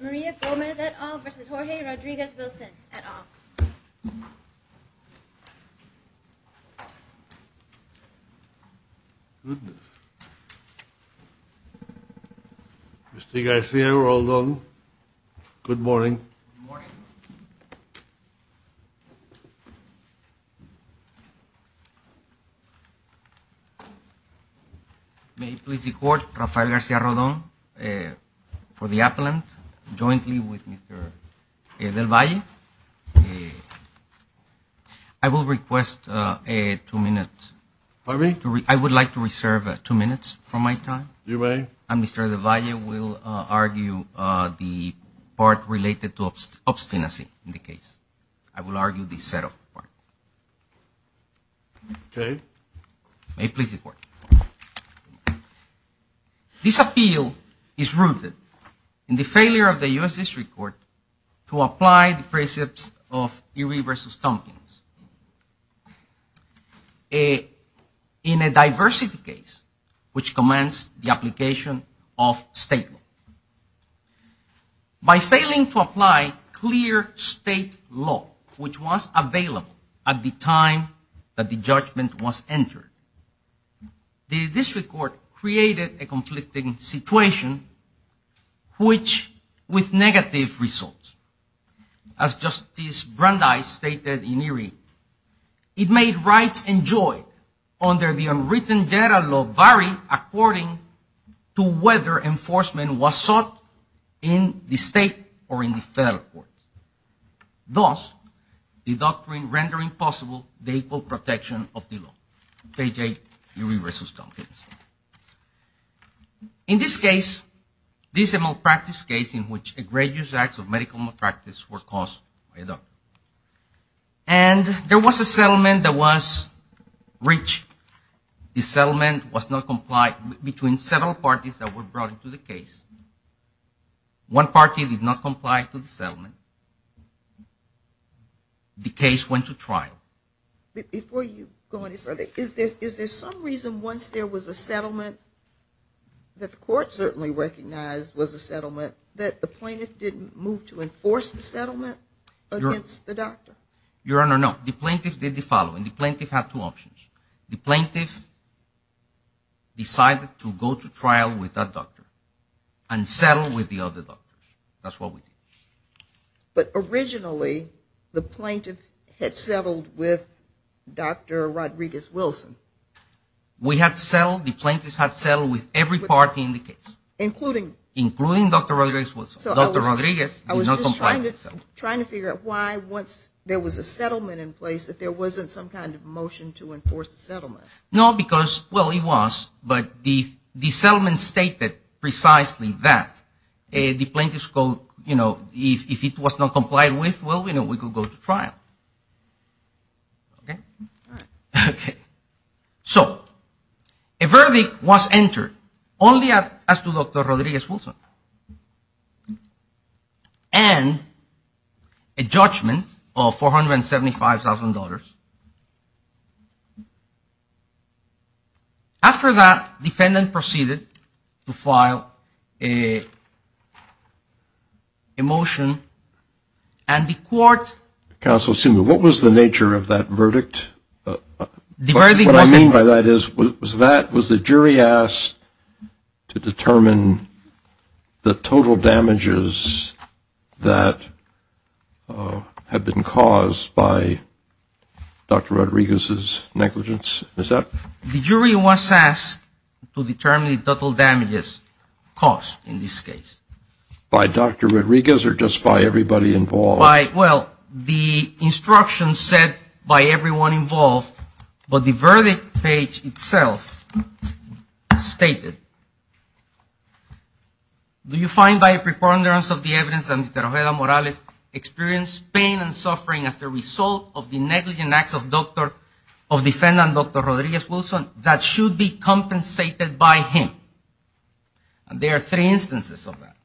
Maria Gomez et al. versus Jorge Rodriguez-Wilson et al. Goodness. Mr. Garcia-Rodon. Good morning. Good morning. May it please the court, Rafael Garcia-Rodon for the appellant, jointly with Mr. Del Valle. I will request two minutes. Pardon me? I would like to reserve two minutes from my time. You may. Mr. Del Valle will argue the part related to obstinacy in the case. I will argue the set-up part. Okay. May it please the court. This appeal is rooted in the failure of the U.S. District Court to apply the precepts of Erie v. Tompkins. In a diversity case, which commands the application of state law. By failing to apply clear state law, which was available at the time that the judgment was entered, the District Court created a conflicting situation, which with negative results. As Justice Brandeis stated in Erie, it made rights enjoyed under the unwritten data law vary according to whether enforcement was sought in the state or in the federal court. Thus, the doctrine rendering possible the equal protection of the law. K.J. Erie v. Tompkins. In this case, this is a malpractice case in which egregious acts of medical malpractice were caused by a doctor. And there was a settlement that was reached. The settlement was not complied between several parties that were brought into the case. One party did not comply to the settlement. The case went to trial. Before you go any further, is there some reason once there was a settlement, that the court certainly recognized was a settlement, that the plaintiff didn't move to enforce the settlement against the doctor? Your Honor, no. The plaintiff did the following. The plaintiff had two options. The plaintiff decided to go to trial with that doctor and settle with the other doctor. That's what we did. But originally, the plaintiff had settled with Dr. Rodriguez-Wilson. We had settled. The plaintiff had settled with every party in the case. Including? Including Dr. Rodriguez-Wilson. Dr. Rodriguez did not comply with the settlement. I was just trying to figure out why once there was a settlement in place, that there wasn't some kind of motion to enforce the settlement. No, because, well, it was. But the settlement stated precisely that. The plaintiff's quote, you know, if it was not complied with, well, we could go to trial. So a verdict was entered only as to Dr. Rodriguez-Wilson. And a judgment of $475,000. After that, the defendant proceeded to file a motion, and the court. Counsel, what was the nature of that verdict? The verdict was. What I mean by that is, was that was the jury asked to determine the total damages that had been caused by Dr. Rodriguez-Wilson. Dr. Rodriguez's negligence? Is that? The jury was asked to determine the total damages caused in this case. By Dr. Rodriguez or just by everybody involved? By, well, the instructions said by everyone involved. But the verdict page itself stated. Do you find by preponderance of the evidence that Mr. Rojeda-Morales experienced pain and suffering as a result of the negligent acts of the defendant, Dr. Rodriguez-Wilson, that should be compensated by him? And there are three instances of that.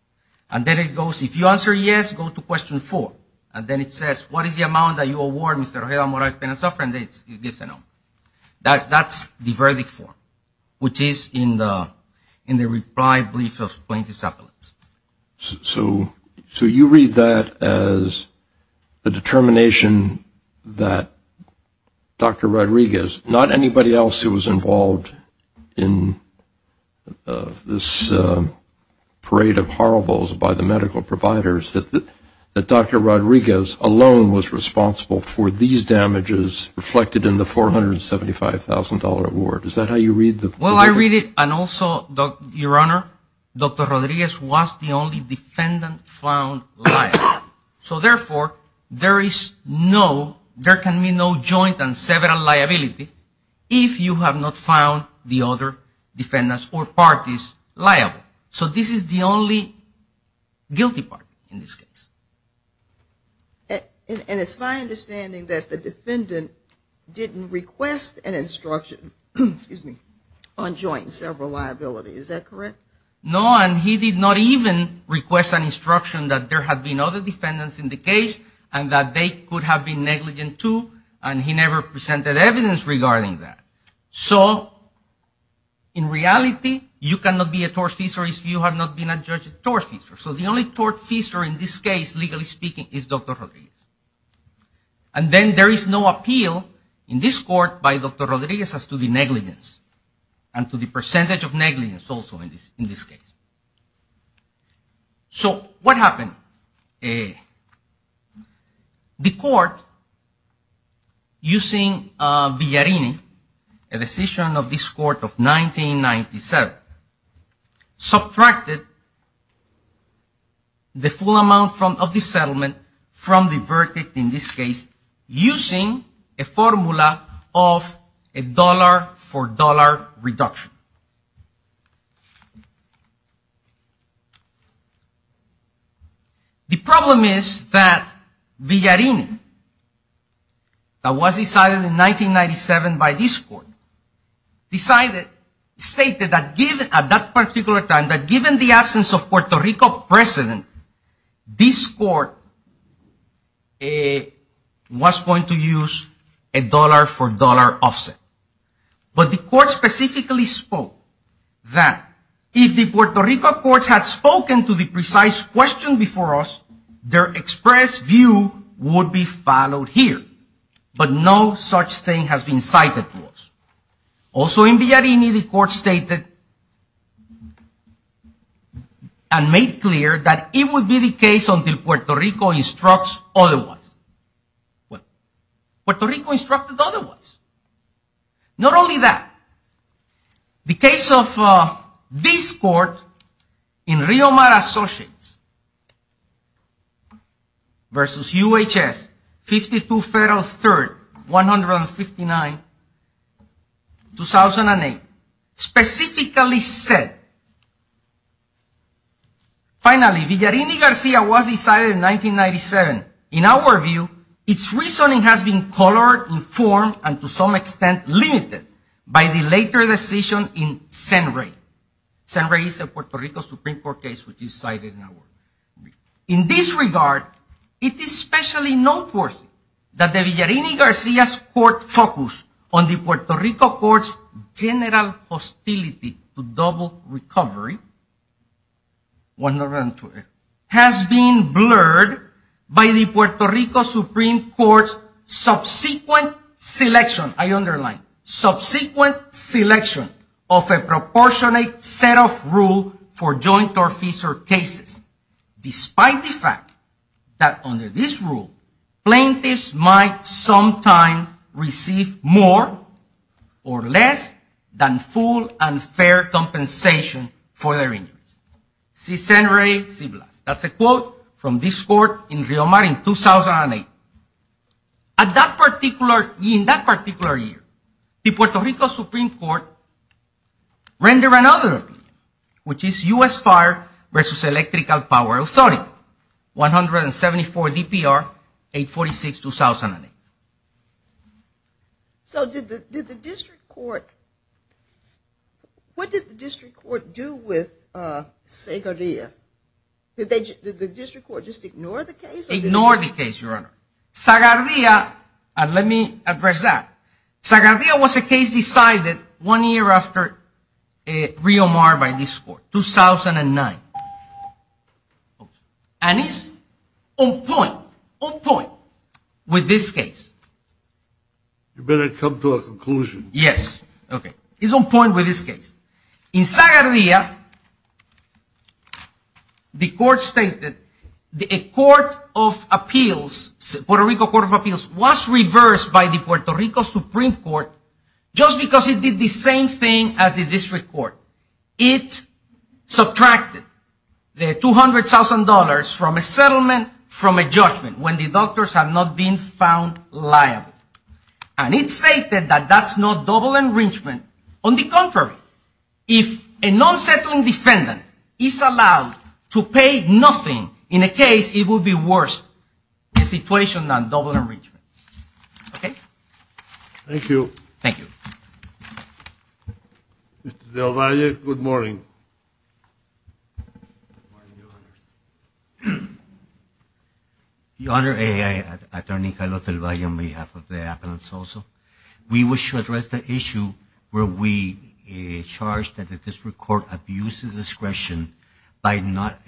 And then it goes, if you answer yes, go to question four. And then it says, what is the amount that you award Mr. Rojeda-Morales pain and suffering? And it gives a number. That's the verdict form. Which is in the reply brief of plaintiff's appellate. So you read that as the determination that Dr. Rodriguez, not anybody else who was involved in this parade of horribles by the medical providers, that Dr. Rodriguez alone was responsible for these damages reflected in the $475,000 award. Is that how you read it? Well, I read it. And also, Your Honor, Dr. Rodriguez was the only defendant found liable. So, therefore, there is no, there can be no joint and several liability if you have not found the other defendants or parties liable. So this is the only guilty party in this case. And it's my understanding that the defendant didn't request an instruction on joint and several liability. Is that correct? No. And he did not even request an instruction that there had been other defendants in the case and that they could have been negligent, too. And he never presented evidence regarding that. So, in reality, you cannot be a tortfeasor if you have not been a judge of tortfeasor. So the only tortfeasor in this case, legally speaking, is Dr. Rodriguez. And then there is no appeal in this court by Dr. Rodriguez as to the negligence and to the percentage of negligence also in this case. So what happened? The court, using Villarini, a decision of this court of 1997, subtracted the full amount of the settlement from the verdict in this case using a formula of dollar-for-dollar reduction. The problem is that Villarini, that was decided in 1997 by this court, stated at that particular time that given the absence of Puerto Rico president, this court was going to use a dollar-for-dollar offset. But the court specifically spoke that if the Puerto Rico courts had spoken to the precise question before us, their expressed view would be followed here. But no such thing has been cited to us. Also in Villarini, the court stated and made clear that it would be the case until Puerto Rico instructs otherwise. Well, Puerto Rico instructed otherwise. Not only that, the case of this court in Riomara Associates versus UHS, 52 Federal 3rd, 159, 2008, specifically said, Finally, Villarini-Garcia was decided in 1997. In our view, its reasoning has been colored, informed, and to some extent limited by the later decision in Senray. Senray is a Puerto Rico Supreme Court case which is cited in our view. In this regard, it is especially noteworthy that the Villarini-Garcia's court focus on the Puerto Rico court's general hostility to double recovery has been blurred by the Puerto Rico Supreme Court's subsequent selection, I underline, subsequent selection of a proportionate set of rule for joint or fissure cases. Despite the fact that under this rule, plaintiffs might sometimes receive more or less than full and fair compensation for their injuries. See Senray, see Blas. That's a quote from this court in Riomara in 2008. In that particular year, the Puerto Rico Supreme Court rendered another appeal, which is U.S. Fire versus Electrical Power Authority, 174 DPR, 846, 2008. So did the district court, what did the district court do with Segoria? Did the district court just ignore the case? Just ignore the case, Your Honor. Segoria, let me address that. Segoria was a case decided one year after Riomara by this court, 2009. And it's on point, on point with this case. You better come to a conclusion. It's on point with this case. In Segoria, the court stated a court of appeals, Puerto Rico Court of Appeals, was reversed by the Puerto Rico Supreme Court just because it did the same thing as the district court. It subtracted the $200,000 from a settlement from a judgment when the doctors have not been found liable. And it stated that that's not double enrichment. On the contrary, if a non-settling defendant is allowed to pay nothing in a case, it will be worse a situation than double enrichment. Okay? Thank you. Thank you. Mr. Del Valle, good morning. Good morning, Your Honor. Your Honor, Attorney Carlos Del Valle on behalf of the appellants also. We wish to address the issue where we charge that the district court abuses discretion by not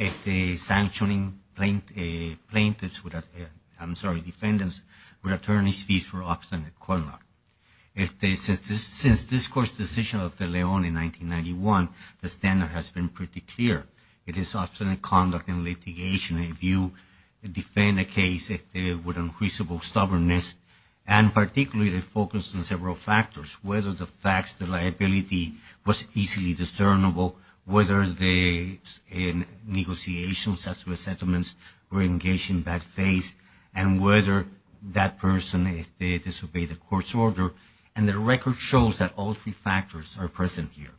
sanctioning plaintiffs with, I'm sorry, defendants with attorney's fees for obstinate court law. Since this court's decision of the Leon in 1991, the standard has been pretty clear. It is obstinate conduct in litigation if you defend a case with unfeasible stubbornness. And particularly, they focus on several factors, whether the facts, the liability was easily discernible, whether the negotiations as to the settlements were engaged in bad faith, and whether that person disobeyed the court's order. And the record shows that all three factors are present here.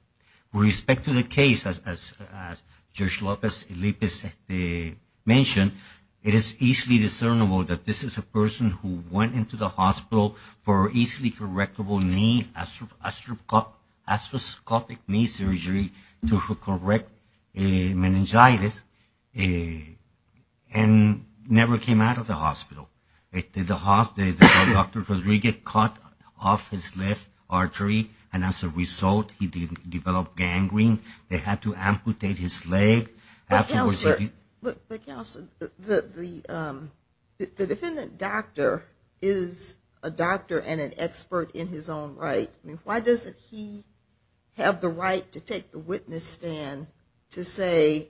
With respect to the case, as Judge Lopez-Elipiz mentioned, it is easily discernible that this is a person who went into the hospital for easily correctable knee, astroscopic knee surgery to correct meningitis, and never came out of the hospital. The hospital, Dr. Rodriguez cut off his left artery, and as a result, he developed gangrene. They had to amputate his leg. But, Counselor, the defendant doctor is a doctor and an expert in his own right. I mean, why doesn't he have the right to take the witness stand to say,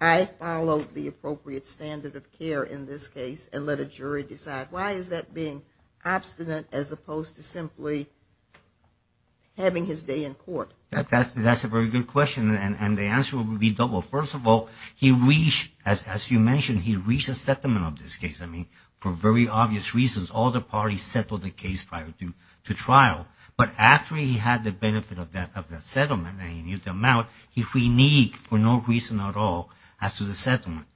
I followed the appropriate standard of care in this case, and let a jury decide? Why is that being obstinate as opposed to simply having his day in court? That's a very good question, and the answer will be double. First of all, he reached, as you mentioned, he reached a settlement of this case. I mean, for very obvious reasons, all the parties settled the case prior to trial. But after he had the benefit of that settlement and he knew the amount, he was reneged for no reason at all as to the settlement.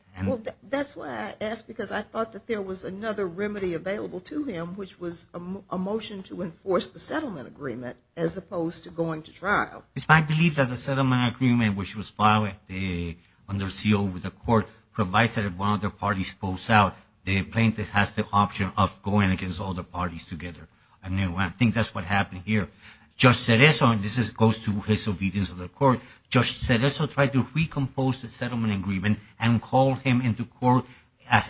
That's why I asked, because I thought that there was another remedy available to him, which was a motion to enforce the settlement agreement as opposed to going to trial. It's my belief that the settlement agreement, which was filed under seal with the court, provides that if one of the parties pulls out, the plaintiff has the option of going against all the parties together. I think that's what happened here. Judge Cereso, and this goes to his obedience of the court, Judge Cereso tried to recompose the settlement agreement and called him into court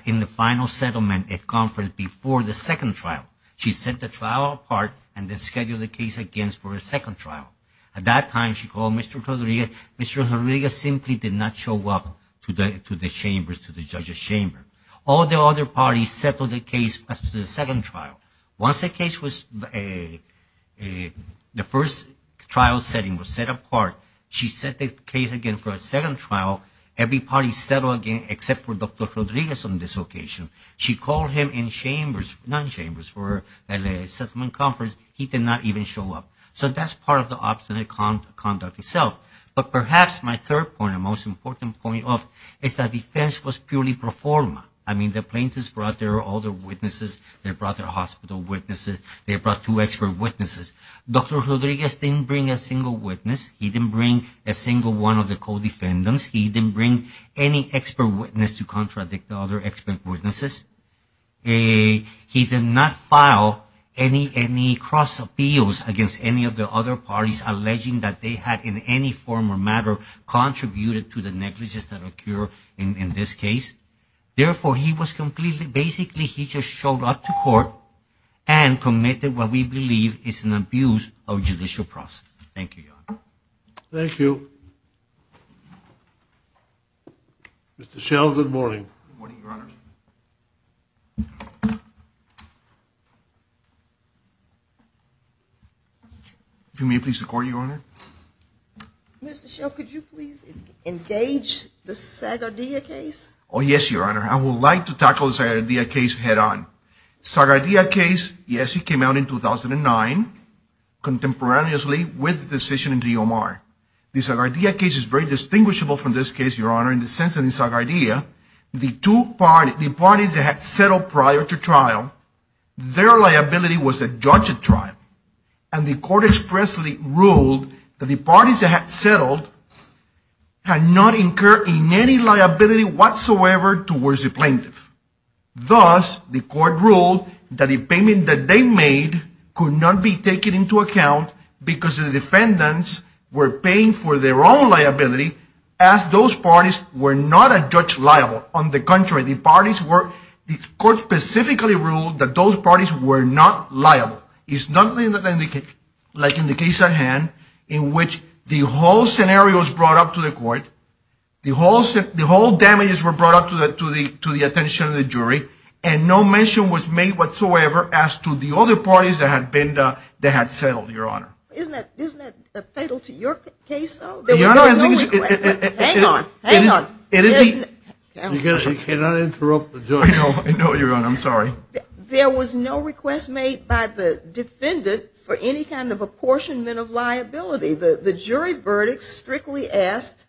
in the final settlement at conference before the second trial. She set the trial apart and then scheduled the case against for a second trial. At that time, she called Mr. Rodriguez. Mr. Rodriguez simply did not show up to the chamber, to the judge's chamber. All the other parties settled the case after the second trial. Once the case was, the first trial setting was set apart, she set the case again for a second trial. Every party settled again except for Dr. Rodriguez on this occasion. She called him in chambers, non-chambers for a settlement conference. He did not even show up. So that's part of the obstinate conduct itself. But perhaps my third point and most important point is that defense was purely pro forma. I mean, the plaintiffs brought their other witnesses. They brought their hospital witnesses. They brought two expert witnesses. Dr. Rodriguez didn't bring a single witness. He didn't bring a single one of the co-defendants. He didn't bring any expert witness to contradict the other expert witnesses. He did not file any cross appeals against any of the other parties, alleging that they had in any form or matter contributed to the negligence that occurred in this case. Therefore, he was completely, basically he just showed up to court and committed what we believe is an abuse of judicial process. Thank you, Your Honor. Thank you. Mr. Schell, good morning. Good morning, Your Honor. If you may please record, Your Honor. Mr. Schell, could you please engage the Zagardia case? Oh, yes, Your Honor. I would like to tackle the Zagardia case head on. Zagardia case, yes, it came out in 2009 contemporaneously with the decision in Rio Mar. The Zagardia case is very distinguishable from this case, Your Honor, in the sense that in Zagardia, the parties that had settled prior to trial, their liability was a judge at trial, and the court expressly ruled that the parties that had settled had not incurred in any liability whatsoever towards the plaintiff. Thus, the court ruled that the payment that they made could not be taken into account because the defendants were paying for their own liability as those parties were not a judge liable. On the contrary, the parties were, the court specifically ruled that those parties were not liable. It's not like in the case at hand in which the whole scenario was brought up to the court, the whole damages were brought up to the attention of the jury, and no mention was made whatsoever as to the other parties that had settled, Your Honor. Isn't that fatal to your case, though? Your Honor, I think it is. Hang on. Hang on. You cannot interrupt the jury. I know, Your Honor. I'm sorry. There was no request made by the defendant for any kind of apportionment of liability. The jury verdict strictly asked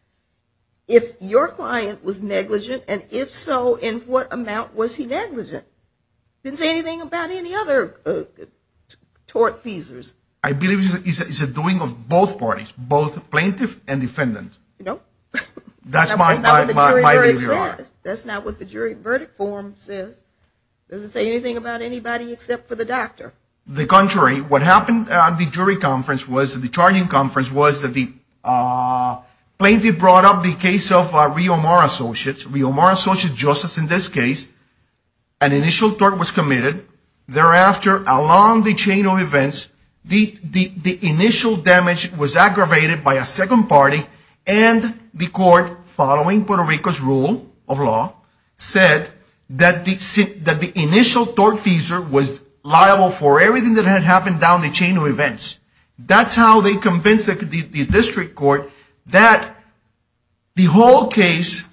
if your client was negligent, and if so, in what amount was he negligent. It didn't say anything about any other tort feasors. I believe it's a doing of both parties, both plaintiff and defendant. No. That's not what the jury verdict says. That's not what the jury verdict form says. It doesn't say anything about anybody except for the doctor. The contrary. What happened at the jury conference was, at the charging conference was that the plaintiff brought up the case of Rio Amaro Associates. Rio Amaro Associates, just as in this case, an initial tort was committed. Thereafter, along the chain of events, the initial damage was aggravated by a second party, and the court, following Puerto Rico's rule of law, said that the initial tort feasor was liable for everything that had happened down the chain of events. That's how they convinced the district court that the whole case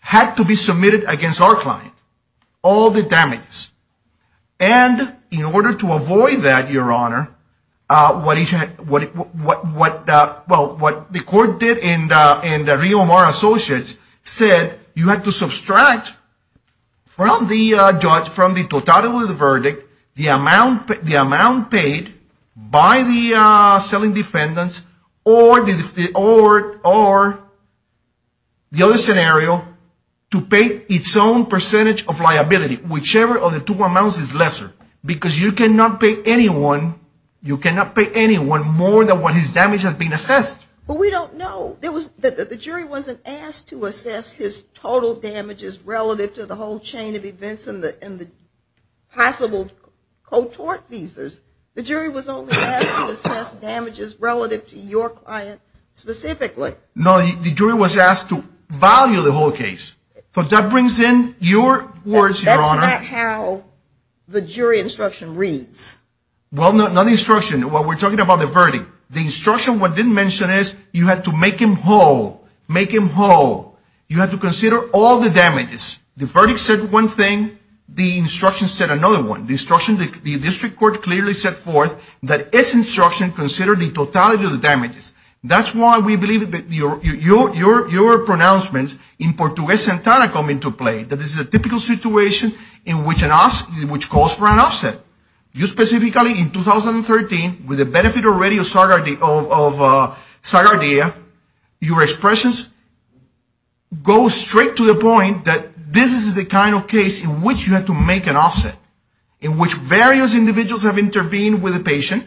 had to be submitted against our client. All the damages. And in order to avoid that, Your Honor, what the court did in the Rio Amaro Associates said, you had to subtract from the judge, from the total of the verdict, the amount paid by the selling defendants, or the other scenario, to pay its own percentage of liability. Whichever of the two amounts is lesser. Because you cannot pay anyone more than what his damage has been assessed. But we don't know. The jury wasn't asked to assess his total damages relative to the whole chain of events and the possible co-tort feasors. The jury was only asked to assess damages relative to your client specifically. No, the jury was asked to value the whole case. So that brings in your words, Your Honor. That's not how the jury instruction reads. Well, not the instruction. We're talking about the verdict. The instruction, what it didn't mention, is you had to make him whole. Make him whole. You had to consider all the damages. The verdict said one thing. The instruction said another one. The instruction, the district court clearly set forth that its instruction considered the totality of the damages. That's why we believe that your pronouncements in Portuguese and Tana come into play. That this is a typical situation in which calls for an offset. You specifically, in 2013, with the benefit already of Sargardia, your expressions go straight to the point that this is the kind of case in which you have to make an offset. In which various individuals have intervened with the patient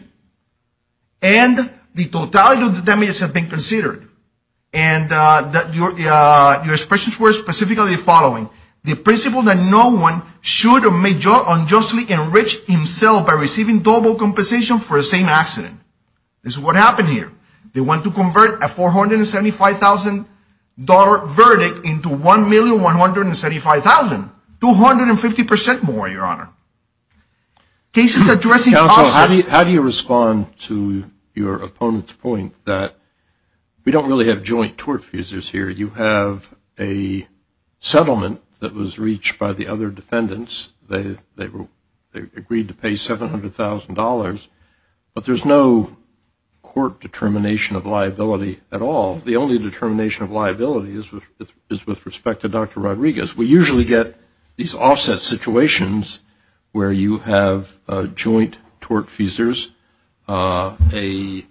and the totality of the damages have been considered. And your expressions were specifically the following. The principle that no one should or may unjustly enrich himself by receiving double compensation for the same accident. This is what happened here. They want to convert a $475,000 verdict into $1,175,000. 250% more, Your Honor. Cases addressing offsets. Counsel, how do you respond to your opponent's point that we don't really have joint tort fuses here. You have a settlement that was reached by the other defendants. They agreed to pay $700,000. But there's no court determination of liability at all. The only determination of liability is with respect to Dr. Rodriguez. We usually get these offset situations where you have joint tort fuses, a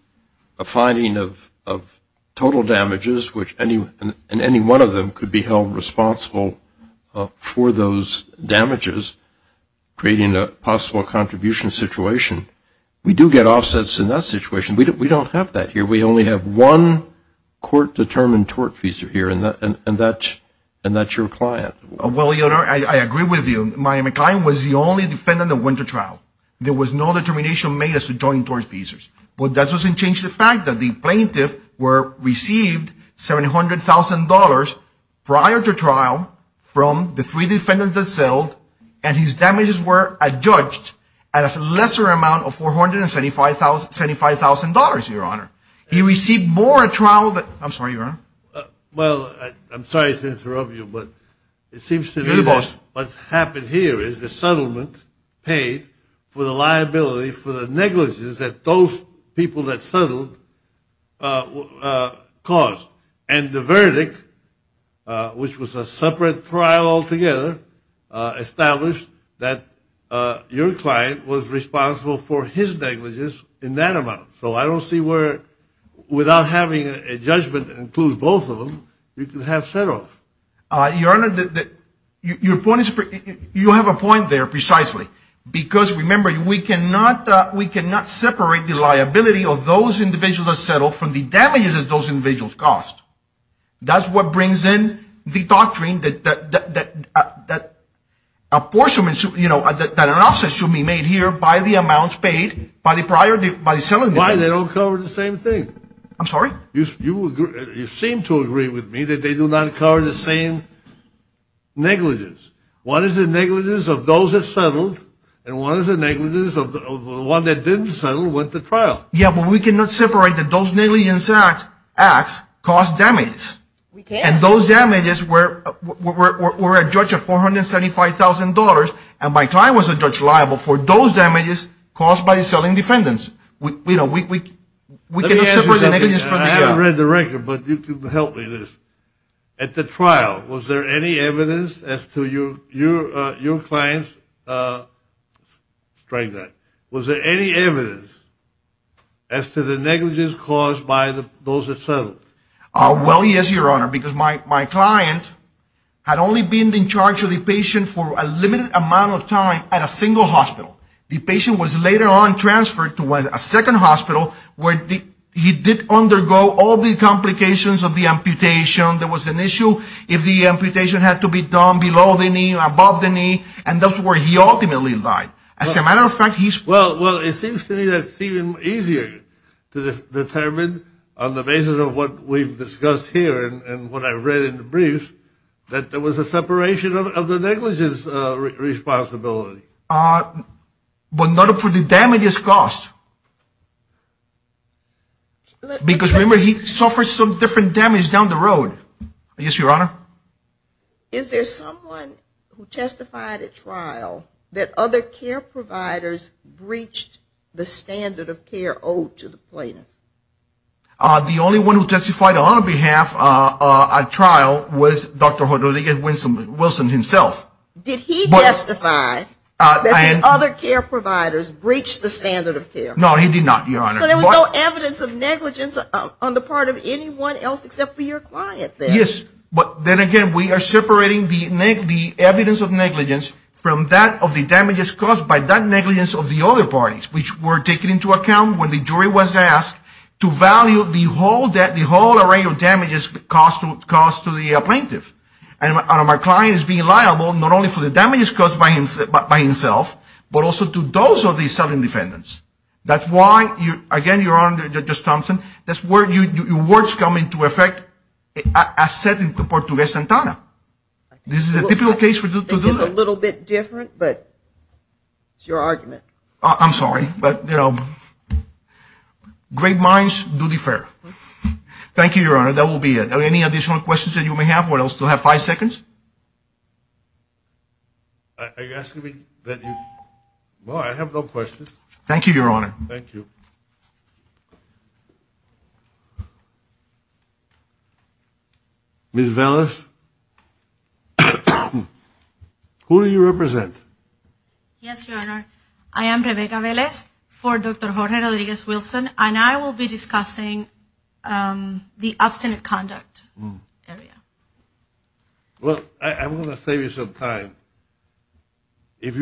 finding of total damages, which any one of them could be held responsible for those damages, creating a possible contribution situation. We do get offsets in that situation. We don't have that here. We only have one court-determined tort fuser here, and that's your client. Well, Your Honor, I agree with you. My client was the only defendant that went to trial. There was no determination made as to joint tort fuses. But that doesn't change the fact that the plaintiff received $700,000 prior to trial from the three defendants that settled, and his damages were adjudged at a lesser amount of $475,000, Your Honor. He received more at trial. I'm sorry, Your Honor. Well, I'm sorry to interrupt you, but it seems to me that what's happened here is the settlement paid for the liability for the negligence that those people that settled caused. And the verdict, which was a separate trial altogether, established that your client was responsible for his negligence in that amount. So I don't see where, without having a judgment that includes both of them, you could have settled. Your Honor, you have a point there precisely, because, remember, we cannot separate the liability of those individuals that settled from the damages that those individuals caused. That's what brings in the doctrine that apportionment, you know, that an offset should be made here by the amounts paid by the prior, by the settlement. Why they don't cover the same thing? I'm sorry? You seem to agree with me that they do not cover the same negligence. One is the negligence of those that settled, and one is the negligence of the one that didn't settle went to trial. Yeah, but we cannot separate that those negligence acts caused damage. And those damages were a judge of $475,000, and my client was a judge liable for those damages caused by the selling defendants. You know, we cannot separate the negligence from that. I haven't read the record, but you can help me with this. At the trial, was there any evidence as to your client's strike that? Was there any evidence as to the negligence caused by those that settled? Well, yes, Your Honor, because my client had only been in charge of the patient for a limited amount of time at a single hospital. The patient was later on transferred to a second hospital where he did undergo all the complications of the amputation. There was an issue if the amputation had to be done below the knee or above the knee, and that's where he ultimately died. As a matter of fact, he's Well, it seems to me that it's even easier to determine on the basis of what we've discussed here and what I read in the briefs that there was a separation of the negligence responsibility. But not for the damages caused. Because remember, he suffered some different damage down the road. Yes, Your Honor. Is there someone who testified at trial that other care providers breached the standard of care owed to the plaintiff? The only one who testified on behalf of a trial was Dr. Jordan Wilson himself. Did he testify that the other care providers breached the standard of care? No, he did not, Your Honor. So there was no evidence of negligence on the part of anyone else except for your client then? Yes, but then again, we are separating the evidence of negligence from that of the damages caused by that negligence of the other parties, which were taken into account when the jury was asked to value the whole array of damages caused to the plaintiff. And my client is being liable not only for the damages caused by himself, but also to those of the selling defendants. That's why, again, Your Honor, Judge Thompson, that's where your words come into effect, as said in the Portuguese Santana. This is a typical case to do that. It's a little bit different, but it's your argument. I'm sorry, but you know, great minds do defer. Thank you, Your Honor. That will be it. Are there any additional questions that you may have, or else we'll have five seconds? Are you asking me that you – well, I have no questions. Thank you, Your Honor. Thank you. Ms. Velez, who do you represent? Yes, Your Honor. I am Rebecca Velez for Dr. Jorge Rodriguez-Wilson, and I will be discussing the abstinent conduct area. Look, I'm going to save you some time. Did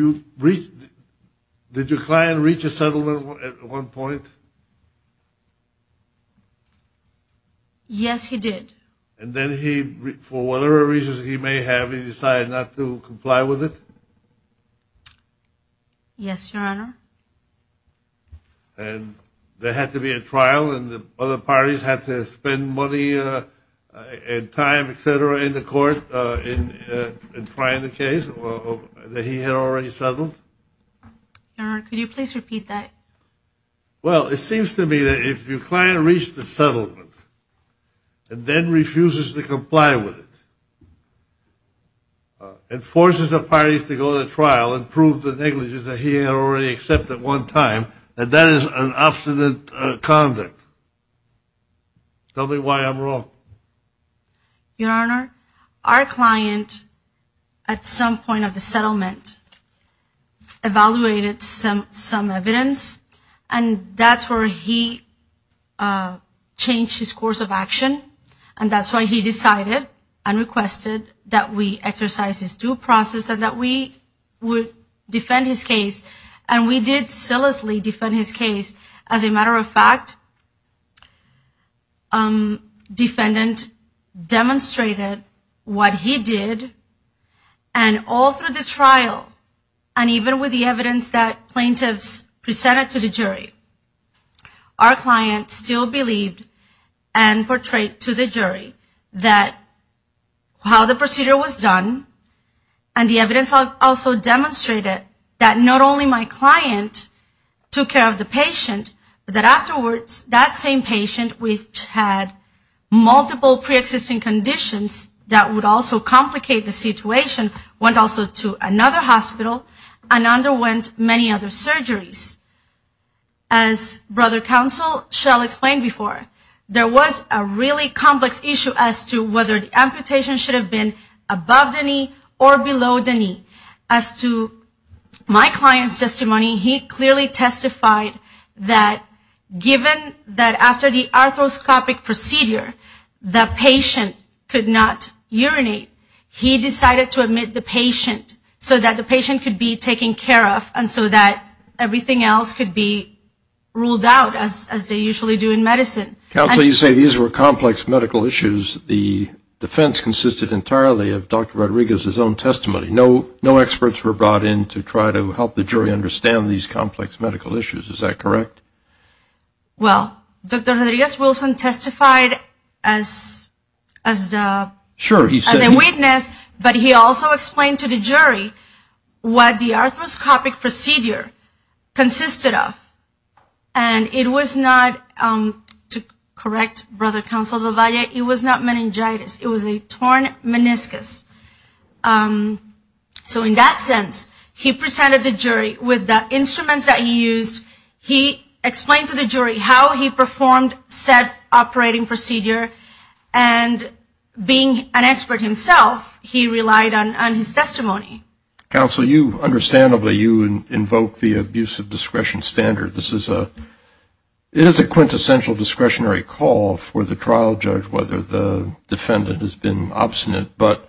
your client reach a settlement at one point? Yes, he did. And then he, for whatever reasons he may have, he decided not to comply with it? Yes, Your Honor. And there had to be a trial, and the other parties had to spend money and time, et cetera, in the court in trying the case that he had already settled? Your Honor, could you please repeat that? Well, it seems to me that if your client reached a settlement and then refuses to comply with it and forces the parties to go to trial and prove the negligence that he had already accepted at one time, that that is an abstinent conduct. Tell me why I'm wrong. Your Honor, our client, at some point of the settlement, evaluated some evidence, and that's where he changed his course of action, and that's why he decided and requested that we exercise his due process and that we would defend his case. And we did zealously defend his case. As a matter of fact, defendant demonstrated what he did, and all through the trial, and even with the evidence that plaintiffs presented to the jury, our client still believed and portrayed to the jury that how the procedure was done and the evidence also demonstrated that not only my client took care of the patient, but that afterwards that same patient, which had multiple preexisting conditions that would also complicate the situation, went also to another hospital and underwent many other surgeries. As brother counsel shall explain before, there was a really complex issue as to whether the amputation should have been above the knee or below the knee. As to my client's testimony, he clearly testified that given that after the arthroscopic procedure, the patient could not urinate, he decided to admit the patient so that the patient could be taken care of and so that everything else could be ruled out as they usually do in medicine. Counsel, you say these were complex medical issues. The defense consisted entirely of Dr. Rodriguez's own testimony. No experts were brought in to try to help the jury understand these complex medical issues. Is that correct? Well, Dr. Rodriguez-Wilson testified as a witness, but he also explained to the jury what the arthroscopic procedure consisted of. And it was not, to correct brother counsel LaValle, it was not meningitis. It was a torn meniscus. So in that sense, he presented the jury with the instruments that he used. He explained to the jury how he performed said operating procedure. And being an expert himself, he relied on his testimony. Counsel, you understandably, you invoke the abuse of discretion standard. This is a quintessential discretionary call for the trial judge whether the defendant has been obstinate. But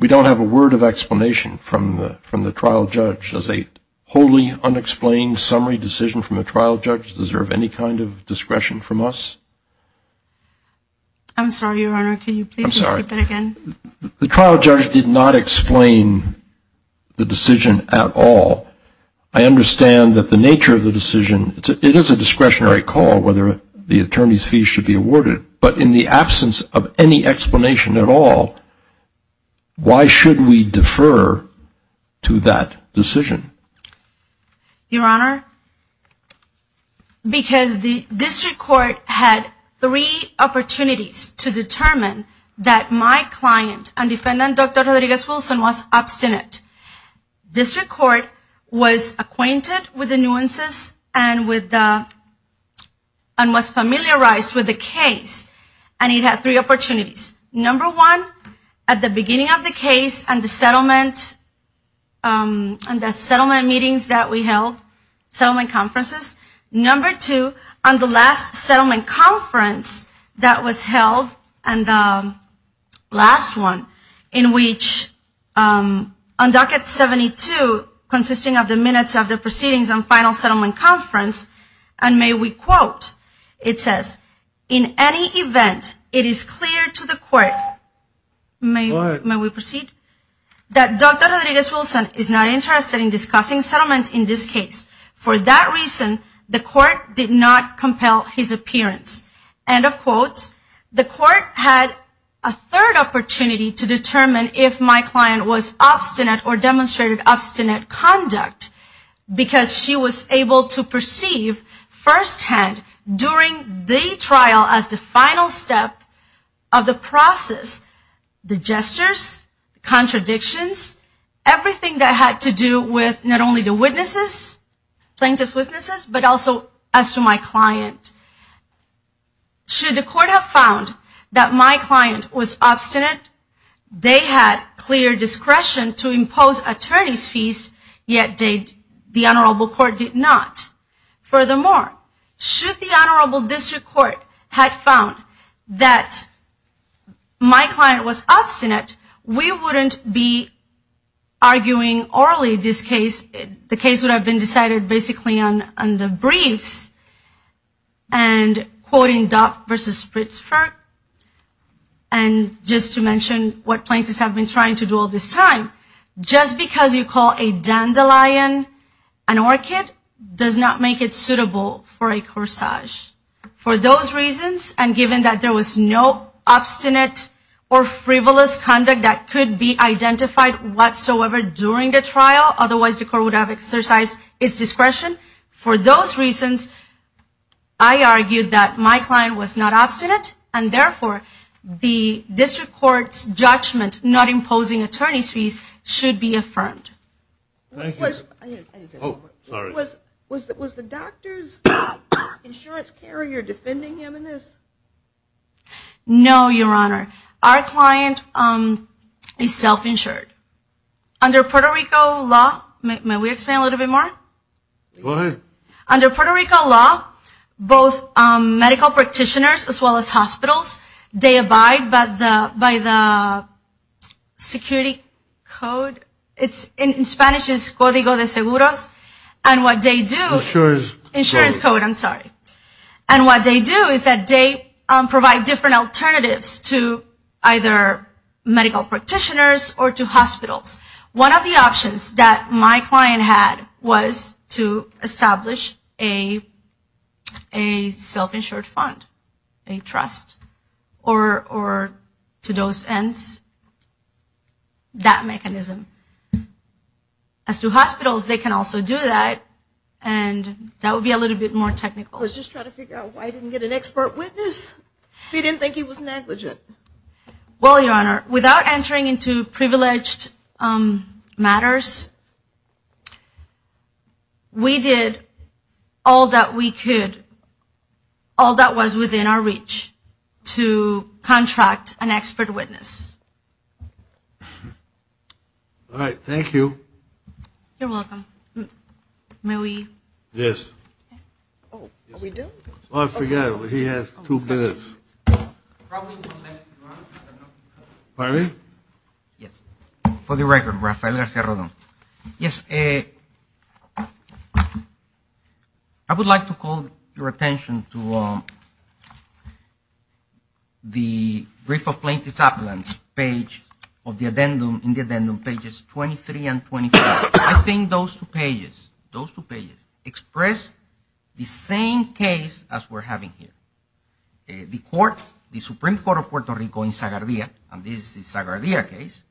we don't have a word of explanation from the trial judge. Does a wholly unexplained summary decision from a trial judge deserve any kind of discretion from us? I'm sorry, Your Honor. Can you please repeat that again? The trial judge did not explain the decision at all. I understand that the nature of the decision, it is a discretionary call whether the attorney's fee should be awarded. But in the absence of any explanation at all, why should we defer to that decision? Your Honor, because the district court had three opportunities to determine that my client and defendant, Dr. Rodriguez-Wilson, was obstinate. District court was acquainted with the nuances and was familiarized with the case. And it had three opportunities. Number one, at the beginning of the case and the settlement meetings that we held, settlement conferences. Number two, on the last settlement conference that was held, and the last one, in which on docket 72, consisting of the minutes of the proceedings and final settlement conference, and may we quote, it says, in any event, it is clear to the court, may we proceed, that Dr. Rodriguez-Wilson is not interested in discussing settlement in this case. For that reason, the court did not compel his appearance. End of quotes. The court had a third opportunity to determine if my client was obstinate or demonstrated obstinate conduct. Because she was able to perceive firsthand during the trial as the final step of the process. The gestures, contradictions, everything that had to do with not only the witnesses, plaintiff's witnesses, but also as to my client. Should the court have found that my client was obstinate, they had clear discretion to impose attorney's fees, yet the honorable court did not. Furthermore, should the honorable district court had found that my client was obstinate, we wouldn't be arguing orally this case. The case would have been decided basically on the briefs, and quoting Dock versus Spritzford, and just to mention what plaintiffs have been trying to do all this time. Just because you call a dandelion an orchid, does not make it suitable for a corsage. For those reasons, and given that there was no obstinate or frivolous conduct that could be identified whatsoever during the trial, otherwise the court would have exercised its discretion. For those reasons, I argued that my client was not obstinate, and therefore the district court's judgment not imposing attorney's fees should be affirmed. Was the doctor's insurance carrier defending him in this? No, Your Honor. Our client is self-insured. Under Puerto Rico law, may we explain a little bit more? Go ahead. Under Puerto Rico law, both medical practitioners as well as hospitals, they abide by the security code. In Spanish it's Código de Seguros. Insurance code. Insurance code, I'm sorry. And what they do is that they provide different alternatives to either medical practitioners or to hospitals. One of the options that my client had was to establish a self-insured fund, a trust, or to those ends, that mechanism. As to hospitals, they can also do that, and that would be a little bit more technical. I was just trying to figure out why I didn't get an expert witness. He didn't think he was negligent. Well, Your Honor, without entering into privileged matters, we did all that we could, all that was within our reach, to contract an expert witness. All right, thank you. You're welcome. May we? Yes. Oh, are we due? Oh, I forgot. He has two minutes. Pardon me? Yes. For the record, Rafael Garcia-Rodon. Yes. I would like to call your attention to the brief of plaintiff's appellant page of the addendum, in the addendum pages 23 and 24. I think those two pages express the same case as we're having here. The Supreme Court of Puerto Rico in Zagardia, and this is the Zagardia case,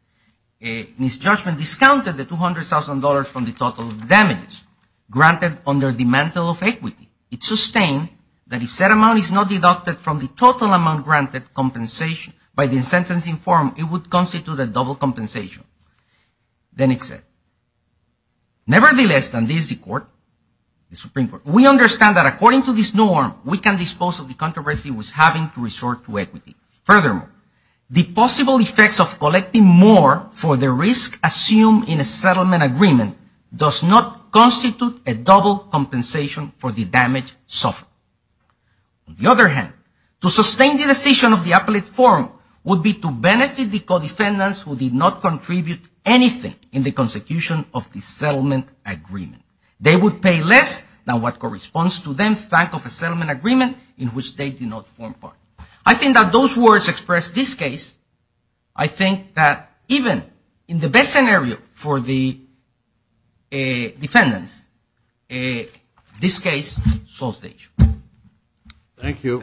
in its judgment, discounted the $200,000 from the total damage granted under the mantle of equity. It sustained that if said amount is not deducted from the total amount granted by the sentencing form, it would constitute a double compensation. Then it said, nevertheless, and this is the court, the Supreme Court, we understand that according to this norm, we can dispose of the controversy with having to resort to equity. Furthermore, the possible effects of collecting more for the risk assumed in a settlement agreement does not constitute a double compensation for the damage suffered. On the other hand, to sustain the decision of the appellate forum would be to benefit the co-defendants who did not contribute anything in the consecution of the settlement agreement. They would pay less than what corresponds to them, thank of a settlement agreement in which they did not form part. I think that those words express this case. I think that even in the best scenario for the defendants, this case solves the issue. Thank you.